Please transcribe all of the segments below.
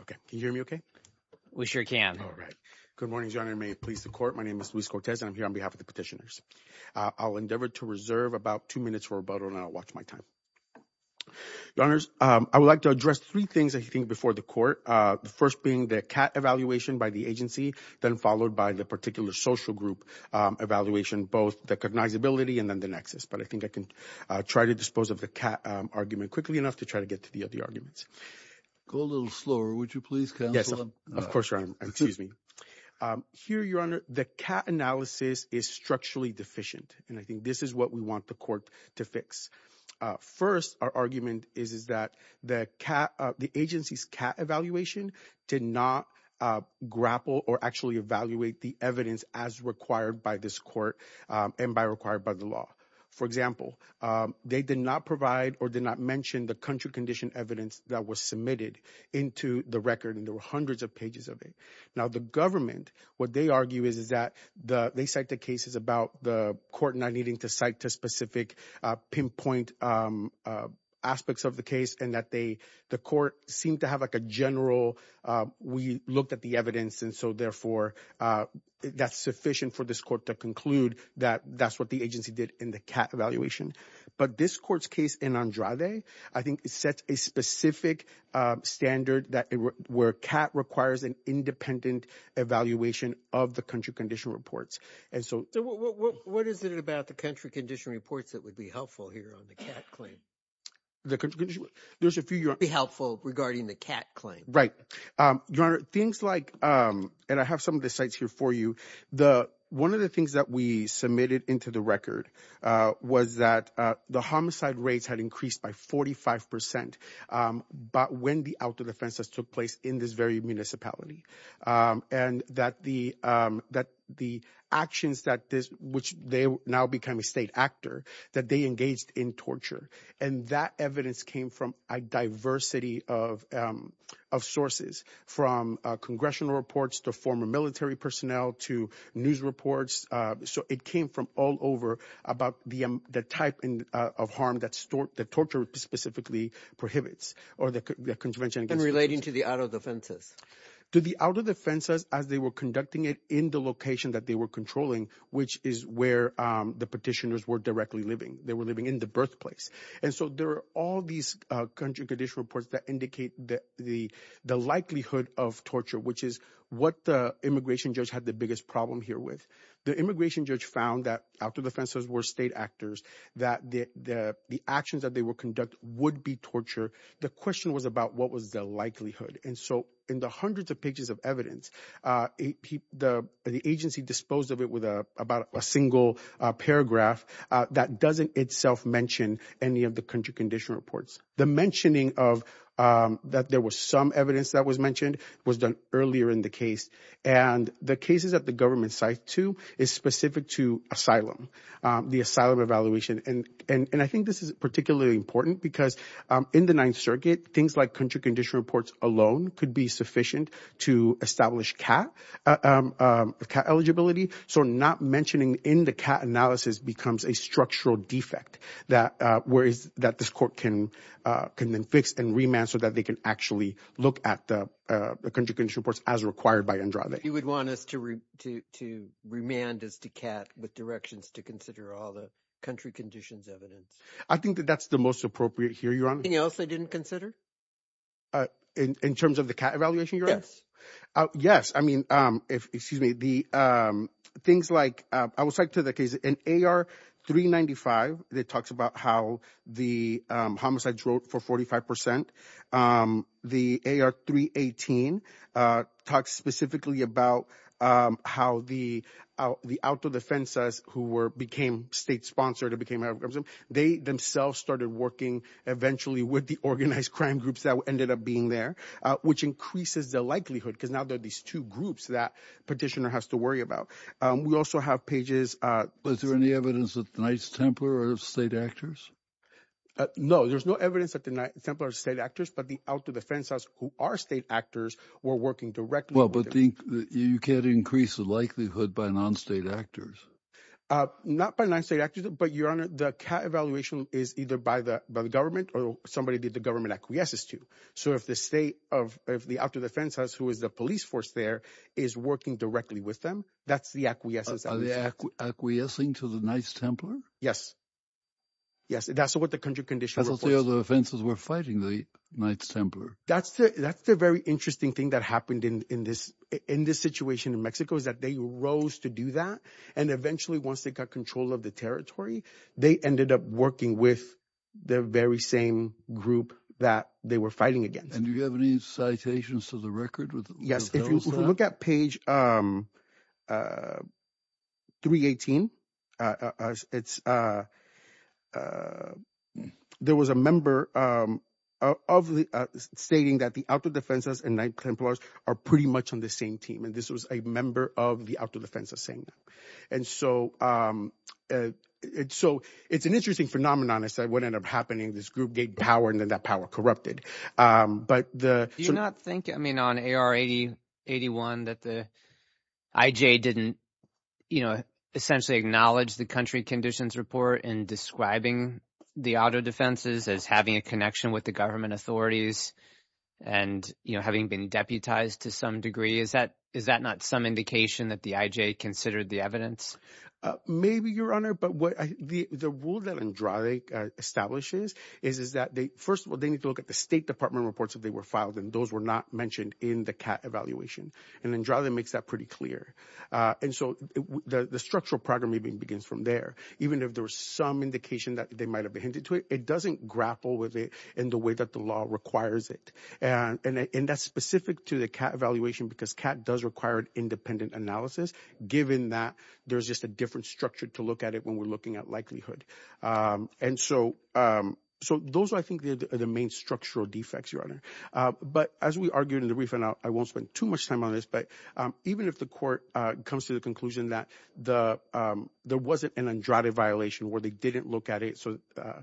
okay can you hear me okay we sure can all right good morning your honor may it please the court my name is Luis Cortez and i'm here on behalf of the petitioners i'll endeavor to reserve about two minutes for rebuttal and i'll watch my time your honors um i would like to address three things i think before the court uh the first being the cat evaluation by the agency then followed by the particular social group um evaluation both the cognizability and then the nexus but i think i can try to dispose of the cat argument quickly enough to try to get to the other arguments go a little slower would you please yes of course excuse me here your honor the cat analysis is structurally deficient and i think this is what we want the court to fix first our argument is is that the cat the agency's cat evaluation did not grapple or actually evaluate the evidence as required by this court and by required by the law for example they did not provide or did not mention the country condition evidence that was submitted into the record and there were hundreds of pages of it now the government what they argue is is that the they cite the cases about the court not needing to cite to specific uh pinpoint um aspects of the case and that they the court seemed to have like a general uh we looked at the evidence and so therefore uh that's sufficient for this court to conclude that that's what the agency did in the cat evaluation but this court's case in andrade i think it sets a specific uh standard that where cat requires an independent evaluation of the country condition reports and so what is it about the country condition reports that would be helpful here on the cat claim the country there's a few be helpful regarding the cat claim right um your honor things like um and i have some of the sites here for you the one of the things that we submitted into the record uh was that uh the homicide rates had increased by 45 percent um but when the out of the fences took place in this very municipality um and that the um that the actions that this which they now become a state actor that they engaged in torture and that evidence came from a diversity of um of sources from congressional reports to former military personnel to news reports uh so it came from all over about the the type of harm that stored the torture specifically prohibits or the convention and relating to the out of the fences to the out of the fences as they were conducting it in the location that they were controlling which is where um the petitioners were directly living they were living in the birthplace and so there are all these uh country condition reports that indicate that the the likelihood of torture which is what the immigration judge had the biggest problem here with the immigration judge found that out of the fences were state actors that the the actions that they would conduct would be torture the question was about what was the likelihood and so in the hundreds of pages of evidence uh he the the agency disposed of it with a about a single uh paragraph uh that doesn't itself mention any of the country condition reports the mentioning of um that there was some evidence that was mentioned was done earlier in the case and the cases at the government site too is specific to asylum um the asylum evaluation and and and i think this is particularly important because um in the ninth circuit things like country condition reports alone could be sufficient to establish cat um cat eligibility so not mentioning in the cat analysis becomes a structural defect that uh where is that this court can uh can then fix and remand so that they can actually look at the uh the country condition reports as required by andrade you would want us to re to to remand us to cat with directions to consider all the country conditions evidence i think that that's the most appropriate here you're on anything else i didn't consider uh in in terms of the cat evaluation yes uh yes i mean um if excuse me the um things like i will cite to the case in ar 395 that talks about how the um homicides wrote for 45 percent um the ar 318 uh talks specifically about um how the out the outdoor defenses who were became state sponsored it became out of them they themselves started working eventually with the organized crime groups that ended up being there uh which increases the likelihood because these two groups that petitioner has to worry about um we also have pages uh was there any evidence that the Knights Templar are state actors no there's no evidence that the Knights Templar state actors but the outer defense us who are state actors were working directly well but think you can't increase the likelihood by non-state actors uh not by nine state actors but your honor the cat evaluation is either by the by the government or somebody did the government acquiesces so if the state of if the outer defense has who is the police force there is working directly with them that's the acquiescence are they acquiescing to the Knights Templar yes yes that's what the country condition was the other offenses were fighting the Knights Templar that's the that's the very interesting thing that happened in in this in this situation in Mexico is that they rose to do that and eventually once they got control of the territory they ended up working with the very same group that they were fighting against and you have any citations to the record with yes if you look at page um uh 318 uh it's uh uh there was a member um of the uh stating that the outer defenses and Knights Templars are pretty much on the same team and this was a member of the would end up happening this group gave power and then that power corrupted um but the do you not think i mean on ar 80 81 that the ij didn't you know essentially acknowledge the country conditions report in describing the auto defenses as having a connection with the government authorities and you know having been deputized to some degree is that is that not some indication that the ij considered the evidence uh maybe your honor but what the the rule that andrade establishes is is that they first of all they need to look at the state department reports if they were filed and those were not mentioned in the cat evaluation and then draw that makes that pretty clear uh and so the the structural programming begins from there even if there was some indication that they might have been hinted to it it doesn't grapple with it in the way that the law requires and and that's specific to the cat evaluation because cat does require an independent analysis given that there's just a different structure to look at it when we're looking at likelihood um and so um so those are i think the the main structural defects your honor uh but as we argued in the brief and i won't spend too much time on this but um even if the court uh comes to the conclusion that the um there wasn't an andrade violation where they didn't look at it so uh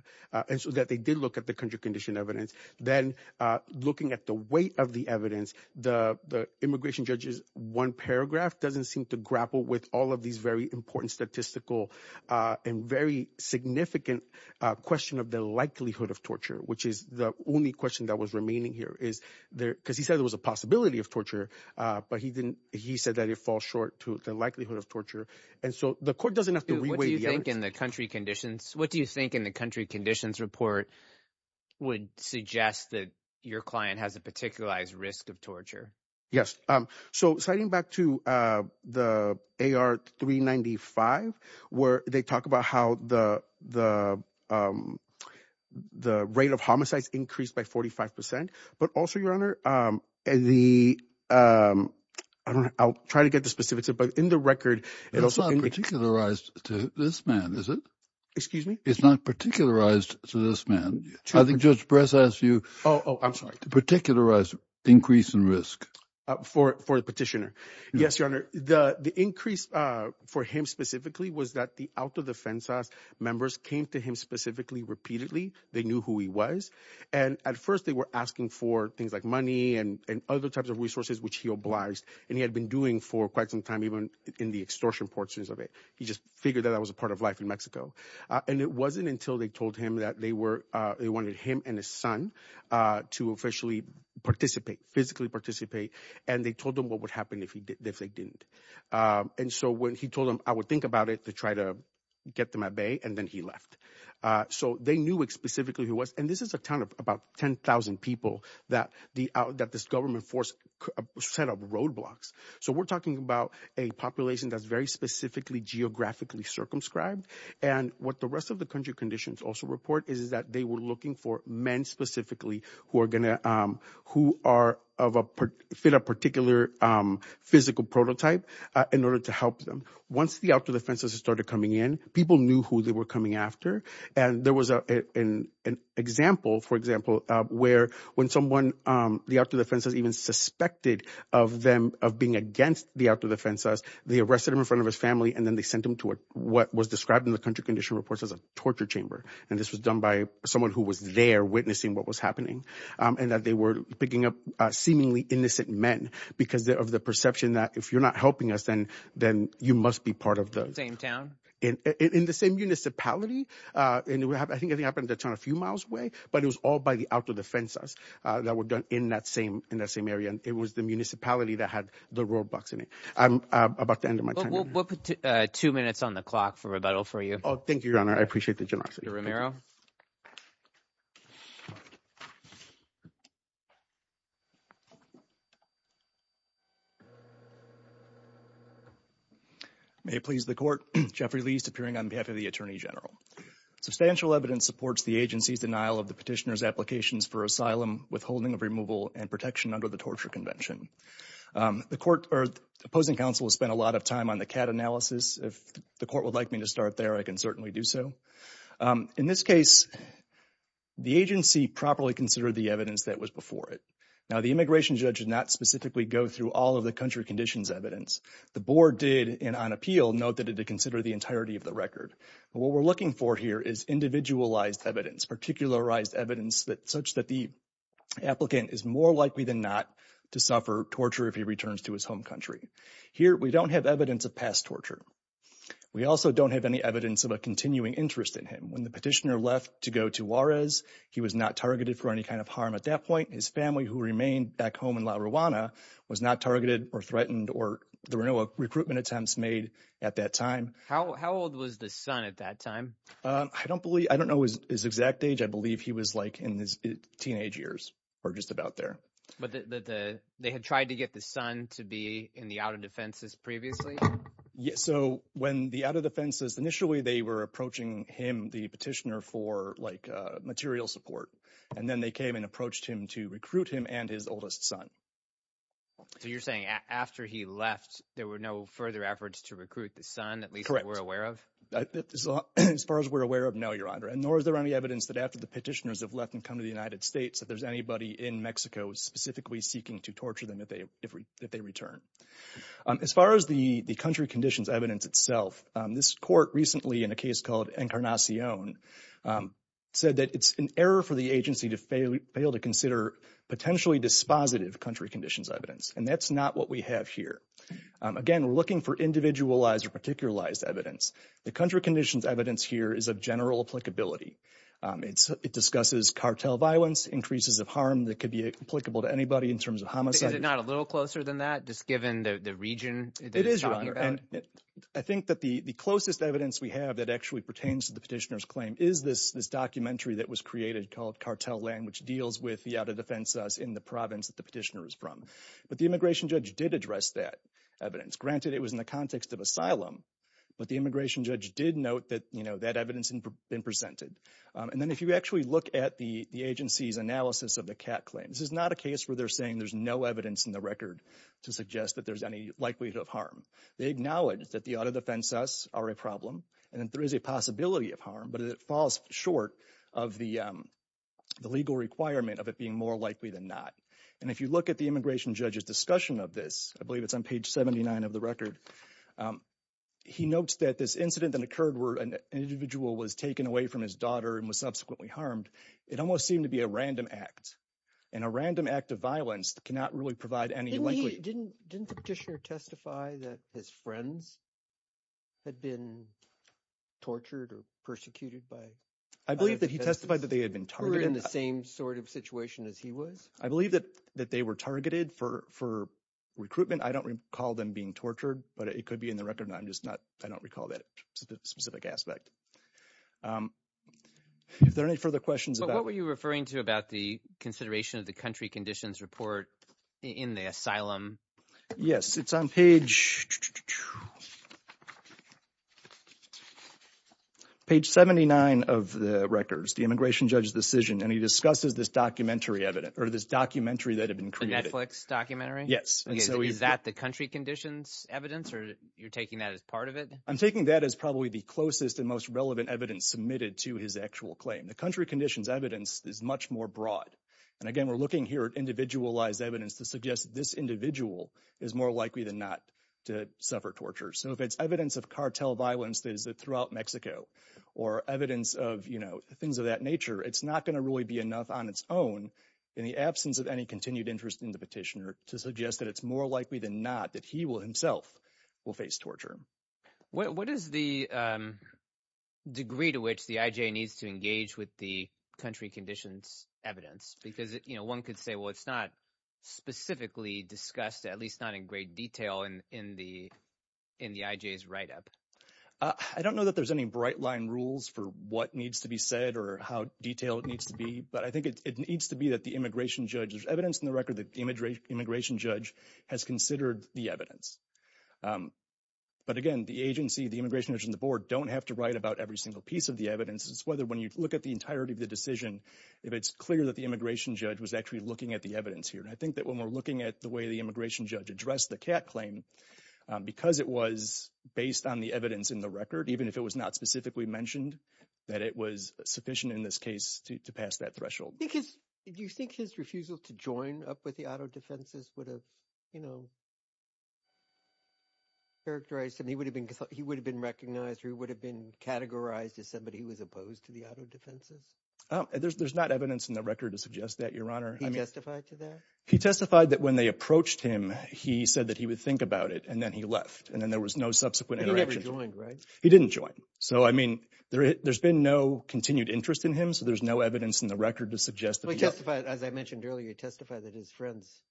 and so that they did look at the country condition evidence then uh looking at the weight of the evidence the the immigration judge's one paragraph doesn't seem to grapple with all of these very important statistical uh and very significant uh question of the likelihood of torture which is the only question that was remaining here is there because he said there was a possibility of torture uh but he didn't he said that it falls short to the likelihood of torture and so the court doesn't have to reweigh the evidence in the country conditions what do you think in the country conditions report would suggest that your client has a particularized risk of torture yes um so citing back to uh the ar 395 where they talk about how the the um the rate of homicides increased by 45 but also your honor um and the um i don't know i'll try to get the specifics but in the record it's not particularized to this man is it excuse me it's not particularized to this man i think judge press asked you oh i'm sorry to particularize increase in risk for for the petitioner yes your honor the the increase uh for him specifically was that the out of the fence house members came to him specifically repeatedly they knew who he was and at first they were asking for things like money and and other types of resources which he obliged and he had been doing for quite some time even in the extortion portions of it he just figured that that was a part of life in mexico and it wasn't until they told him that they were uh they wanted him and his son uh to officially participate physically participate and they told them what would happen if he did if they didn't um and so when he told them i would think about it to try to get them at bay and then he left uh so they knew specifically who was and this is a town of about 10 000 people that the that this government force set up roadblocks so we're talking about a population that's very specifically geographically circumscribed and what the rest of the country conditions also report is that they were looking for men specifically who are going to um who are of a fit a particular um physical prototype in order to help them once the outer defenses started coming in people knew who they were coming after and there was a an example for example uh where when someone um the outer the outer defenses they arrested him in front of his family and then they sent him to what was described in the country condition reports as a torture chamber and this was done by someone who was there witnessing what was happening um and that they were picking up uh seemingly innocent men because of the perception that if you're not helping us then then you must be part of the same town in in the same municipality uh and we have i think it happened to turn a few miles away but it was all by the outer defenses uh that were done in that same in that same area and it was the i'm about the end of my time we'll put two minutes on the clock for rebuttal for you oh thank you your honor i appreciate the generosity may it please the court jeffrey least appearing on behalf of the attorney general substantial evidence supports the agency's denial of the petitioner's applications for asylum withholding of removal and protection under the torture convention um the court or opposing counsel has spent a lot of time on the cat analysis if the court would like me to start there i can certainly do so um in this case the agency properly considered the evidence that was before it now the immigration judge did not specifically go through all of the country conditions evidence the board did and on appeal note that it did consider the entirety of the record but what we're looking for here is individualized evidence particularized evidence such that the applicant is more likely than not to suffer torture if he returns to his home country here we don't have evidence of past torture we also don't have any evidence of a continuing interest in him when the petitioner left to go to juarez he was not targeted for any kind of harm at that point his family who remained back home in la ruana was not targeted or threatened or there were no recruitment attempts made at that time how old was the son at that time uh i don't believe i don't know his exact age i believe he was like in his teenage years or just about there but the the they had tried to get the son to be in the out of defenses previously yeah so when the out of defenses initially they were approaching him the petitioner for like uh material support and then they came and approached him to recruit him and his oldest son so you're saying after he left there were no further efforts to recruit the son at least we're aware of as far as we're aware of no your honor and nor is there any evidence that after the petitioners have left and come to the united states that there's anybody in mexico specifically seeking to torture them if they if they return as far as the the country conditions evidence itself this court recently in a case called encarnacion said that it's an error for the agency to fail to consider potentially dispositive country conditions evidence and that's not what we have here again we're looking for individualized or particularized evidence the country conditions evidence here is of general applicability um it's it discusses cartel violence increases of harm that could be applicable to anybody in terms of homicide is it not a little closer than that just given the the region it is i think that the the closest evidence we have that actually pertains to the petitioner's claim is this this documentary that was created called cartel land which deals with the out of defense us in the province that the immigration judge did address that evidence granted it was in the context of asylum but the immigration judge did note that you know that evidence been presented and then if you actually look at the the agency's analysis of the cat claim this is not a case where they're saying there's no evidence in the record to suggest that there's any likelihood of harm they acknowledge that the auto defense us are a problem and there is a possibility of harm but it falls short of the the legal requirement of it being more likely than not and if you look at the immigration judge's discussion of this i believe it's on page 79 of the record um he notes that this incident that occurred where an individual was taken away from his daughter and was subsequently harmed it almost seemed to be a random act and a random act of violence cannot really provide any likely didn't didn't the petitioner testify that his friends had been tortured or persecuted by i believe that he testified that they had been targeted in the same sort of situation as he was i believe that that they were targeted for for recruitment i don't recall them being tortured but it could be in the record and i'm just not i don't recall that specific aspect um if there are any further questions what were you referring to about the consideration of the country conditions report in the asylum yes it's on page page 79 of the records the immigration judge's decision and he discusses this documentary evidence or this documentary that had been created netflix documentary yes and so is that the country conditions evidence or you're taking that as part of it i'm taking that as probably the closest and most relevant evidence submitted to his actual claim the country conditions evidence is much more broad and again we're looking here at individualized evidence to suggest this individual is more likely than not to suffer torture so if it's evidence of cartel violence that is throughout mexico or evidence of you know things of that nature it's not going to really be enough on its own in the absence of any continued interest in the petitioner to suggest that it's more likely than not that he will himself will face torture what is the um degree to which the ij needs to engage with the country conditions evidence because you know one could say well it's not specifically discussed at least not in great detail in in the in the ij's write-up uh i don't know that there's any bright line rules for what needs to be said or how detailed it needs to be but i think it needs to be that the immigration judge there's evidence in the record that the imagery immigration judge has considered the evidence um but again the agency the immigration judge and the board don't have to write about every single piece of the evidence it's whether when you look at the entirety of the decision if it's clear that the immigration judge was actually looking at the evidence here i think that when we're looking at the way the immigration judge addressed the cat claim because it was based on the evidence in the record even if it was not specifically mentioned that it was sufficient in this case to pass that threshold because do you think his refusal to join up with the auto defenses would have you know characterized him he would have been he would have been recognized or he would have been categorized as somebody who was opposed to the auto defenses there's not evidence in the record to suggest that your honor justified to that he testified that when they approached him he said that he would think about it and then he left and then there was no subsequent interaction right he didn't join so i mean there there's been no continued interest in him so there's no evidence in the record to suggest that we testified as i mentioned earlier he testified that his friends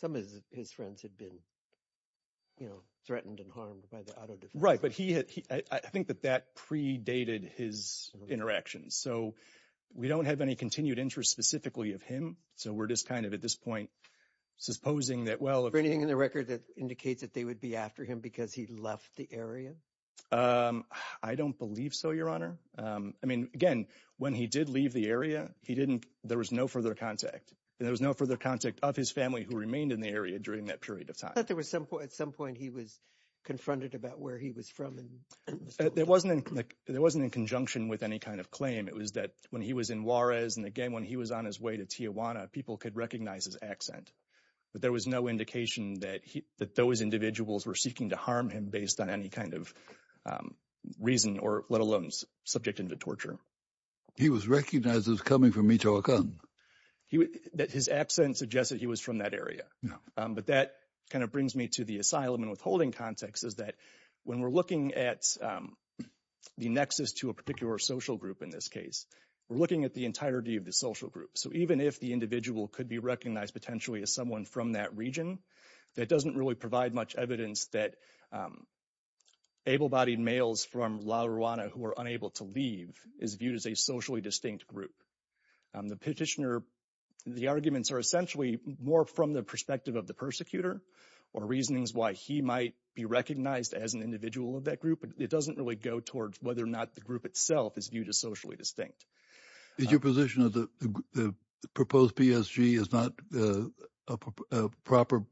some of his friends had been you know threatened and harmed by the auto right but he had i think that that predated his interactions so we don't have any continued interest specifically of him so we're just kind of at this point supposing that for anything in the record that indicates that they would be after him because he left the area um i don't believe so your honor um i mean again when he did leave the area he didn't there was no further contact there was no further contact of his family who remained in the area during that period of time but there was some point at some point he was confronted about where he was from there wasn't like there wasn't in conjunction with any kind of claim it was that when he was in juarez and again when he was on his way to tijuana people could recognize his accent but there was no indication that he that those individuals were seeking to harm him based on any kind of reason or let alone subject him to torture he was recognized as coming from michoacan that his accent suggests that he was from that area but that kind of brings me to the asylum and withholding context is that when we're looking at the nexus to a particular social group in this case we're looking at the entirety of the social group so even if the individual could be recognized potentially as someone from that region that doesn't really provide much evidence that um able-bodied males from la ruana who are unable to leave is viewed as a socially distinct group um the petitioner the arguments are essentially more from the perspective of the persecutor or reasonings why he might be recognized as an individual of that group but it doesn't really go towards whether or not the group itself is viewed as socially distinct is your position the proposed psg is not a proper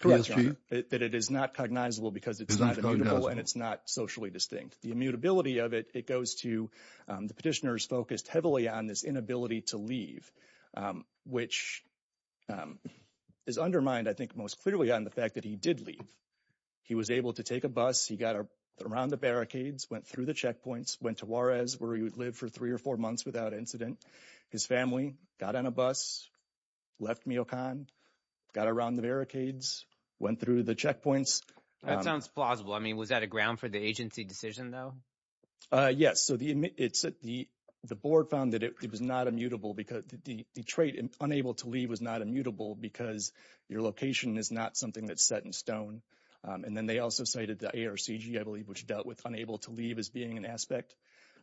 that it is not cognizable because it's not immutable and it's not socially distinct the immutability of it it goes to the petitioners focused heavily on this inability to leave which is undermined i think most clearly on the fact that he did leave he was able to take a bus he got around the barricades went through the checkpoints went to juarez where he would live for three or four months without incident his family got on a bus left miocon got around the barricades went through the checkpoints that sounds plausible i mean was that a ground for the agency decision though uh yes so the it's at the the board found that it was not immutable because the detroit unable to leave was not immutable because your location is not something that's set in stone and then they also cited the arcg i believe which dealt with unable to leave as being an aspect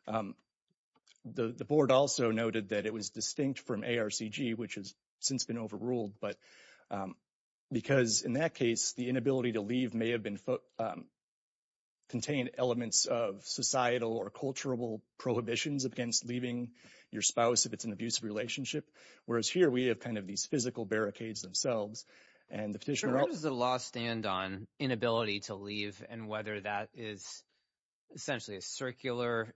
the the board also noted that it was distinct from arcg which has since been overruled but because in that case the inability to leave may have been contained elements of societal or cultural prohibitions against leaving your spouse if it's an abusive relationship whereas here we have kind of these physical barricades themselves and the petitioner does the law stand on inability to leave and whether that is essentially a circular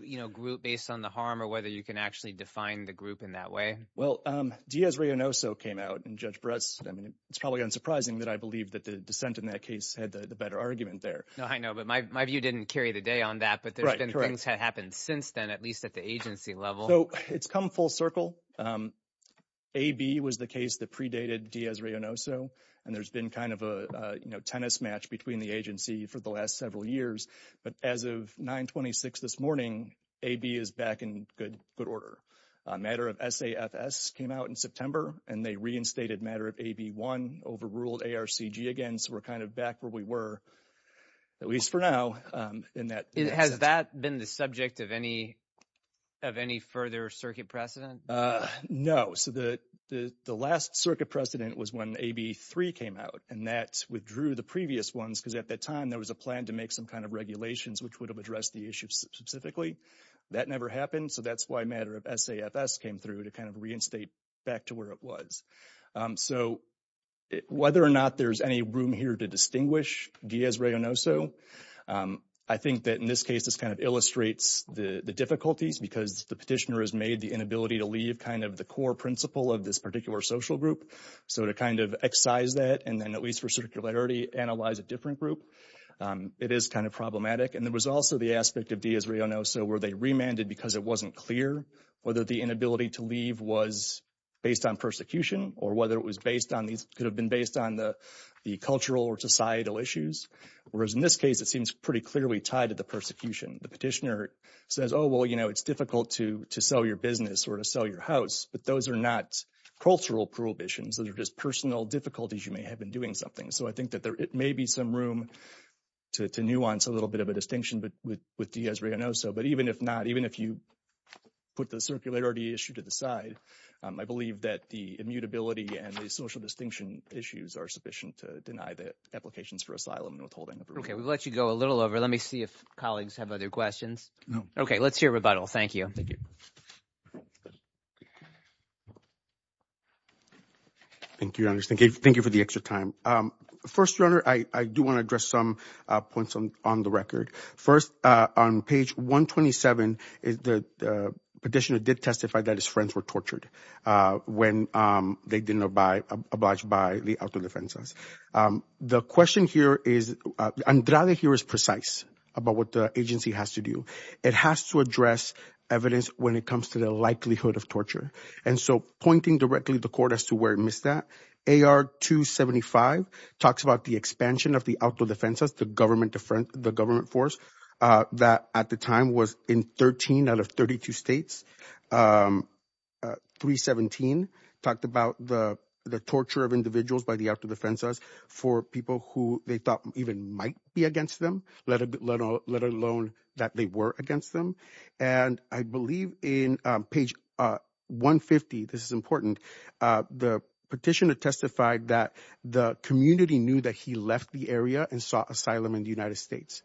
you know group based on the harm or whether you can actually define the group in that way well um diaz reyonoso came out and judge bress i mean it's probably unsurprising that i believe that the dissent in that case had the better argument there no i know but my view didn't carry the day on that but there's been things that happened since then at least at the agency level so it's come full circle um ab was the case that predated diaz reyonoso and there's been kind of a you know tennis match between the agency for the last several years but as of 9 26 this morning ab is back in good good order a matter of safs came out in september and they reinstated matter of ab1 overruled arcg again so we're kind of back where we were at least for now um in that has that been the subject of any of any further circuit precedent uh no so the the the last circuit precedent was when ab3 came out and that withdrew the previous ones because at that time there was a plan to make some kind of regulations which would have addressed the issue specifically that never happened so that's why matter of safs came through to kind of reinstate back to where it was um so whether or not there's any room here to distinguish diaz reyonoso um i think that in this case this kind of illustrates the the difficulties because the petitioner has made the inability to leave kind of the core principle of this particular social group so to kind of excise that and then at least for circularity analyze a different group it is kind of problematic and there was also the aspect of diaz reyonoso where they remanded because it wasn't clear whether the inability to leave was based on persecution or whether it was based on these could have been based on the the cultural or societal issues whereas in it seems pretty clearly tied to the persecution the petitioner says oh well you know it's difficult to to sell your business or to sell your house but those are not cultural prohibitions those are just personal difficulties you may have been doing something so i think that there it may be some room to to nuance a little bit of a distinction but with with diaz reyonoso but even if not even if you put the circularity issue to the side i believe that the immutability and the social distinction issues are sufficient to deny the applications for asylum and withholding okay we let you go a little over let me see if colleagues have other questions no okay let's hear rebuttal thank you thank you thank you thank you for the extra time um first your honor i i do want to address some uh points on on the record first uh on page 127 is the petitioner did testify that his friends were tortured uh when um they didn't abide obliged by the auto defenses um the question here is andrade here is precise about what the agency has to do it has to address evidence when it comes to the likelihood of torture and so pointing directly the court as to where it missed that ar 275 talks about the expansion of the auto defenses the government different the government force uh that at the time was in 13 out of 32 states um 317 talked about the the torture of individuals by the after the fences for people who they thought even might be against them let a bit let alone let alone that they were against them and i believe in uh page uh 150 this is important uh the petitioner testified that the community knew that he left the area and sought in the united states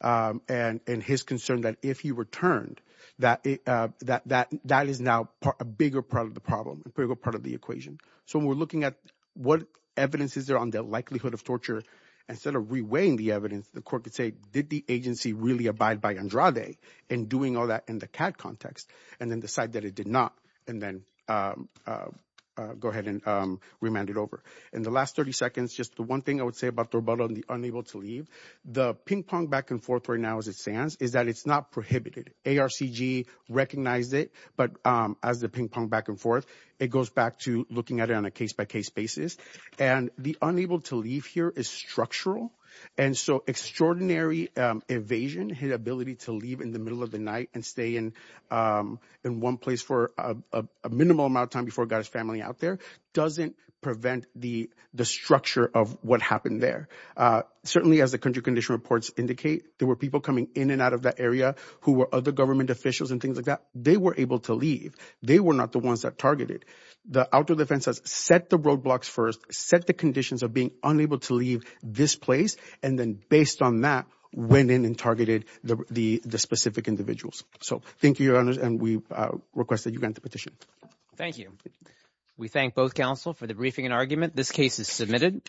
um and and his concern that if he returned that uh that that that is now a bigger part of the problem a bigger part of the equation so we're looking at what evidence is there on the likelihood of torture instead of reweighing the evidence the court could say did the agency really abide by andrade and doing all that in the cat context and then decide that it did not and then um uh go ahead and um remand it over in the last 30 seconds just the one thing i would say about the rebuttal and the unable to leave the ping-pong back and forth right now as it stands is that it's not prohibited arcg recognized it but um as the ping-pong back and forth it goes back to looking at it on a case-by-case basis and the unable to leave here is structural and so extraordinary um evasion his ability to leave in the middle of the night and stay in um in one place for a a minimal amount of time before god's family out there doesn't the the structure of what happened there uh certainly as the country condition reports indicate there were people coming in and out of that area who were other government officials and things like that they were able to leave they were not the ones that targeted the outdoor defense has set the roadblocks first set the conditions of being unable to leave this place and then based on that went in and targeted the the specific individuals so thank you your counsel for the briefing and argument this case is submitted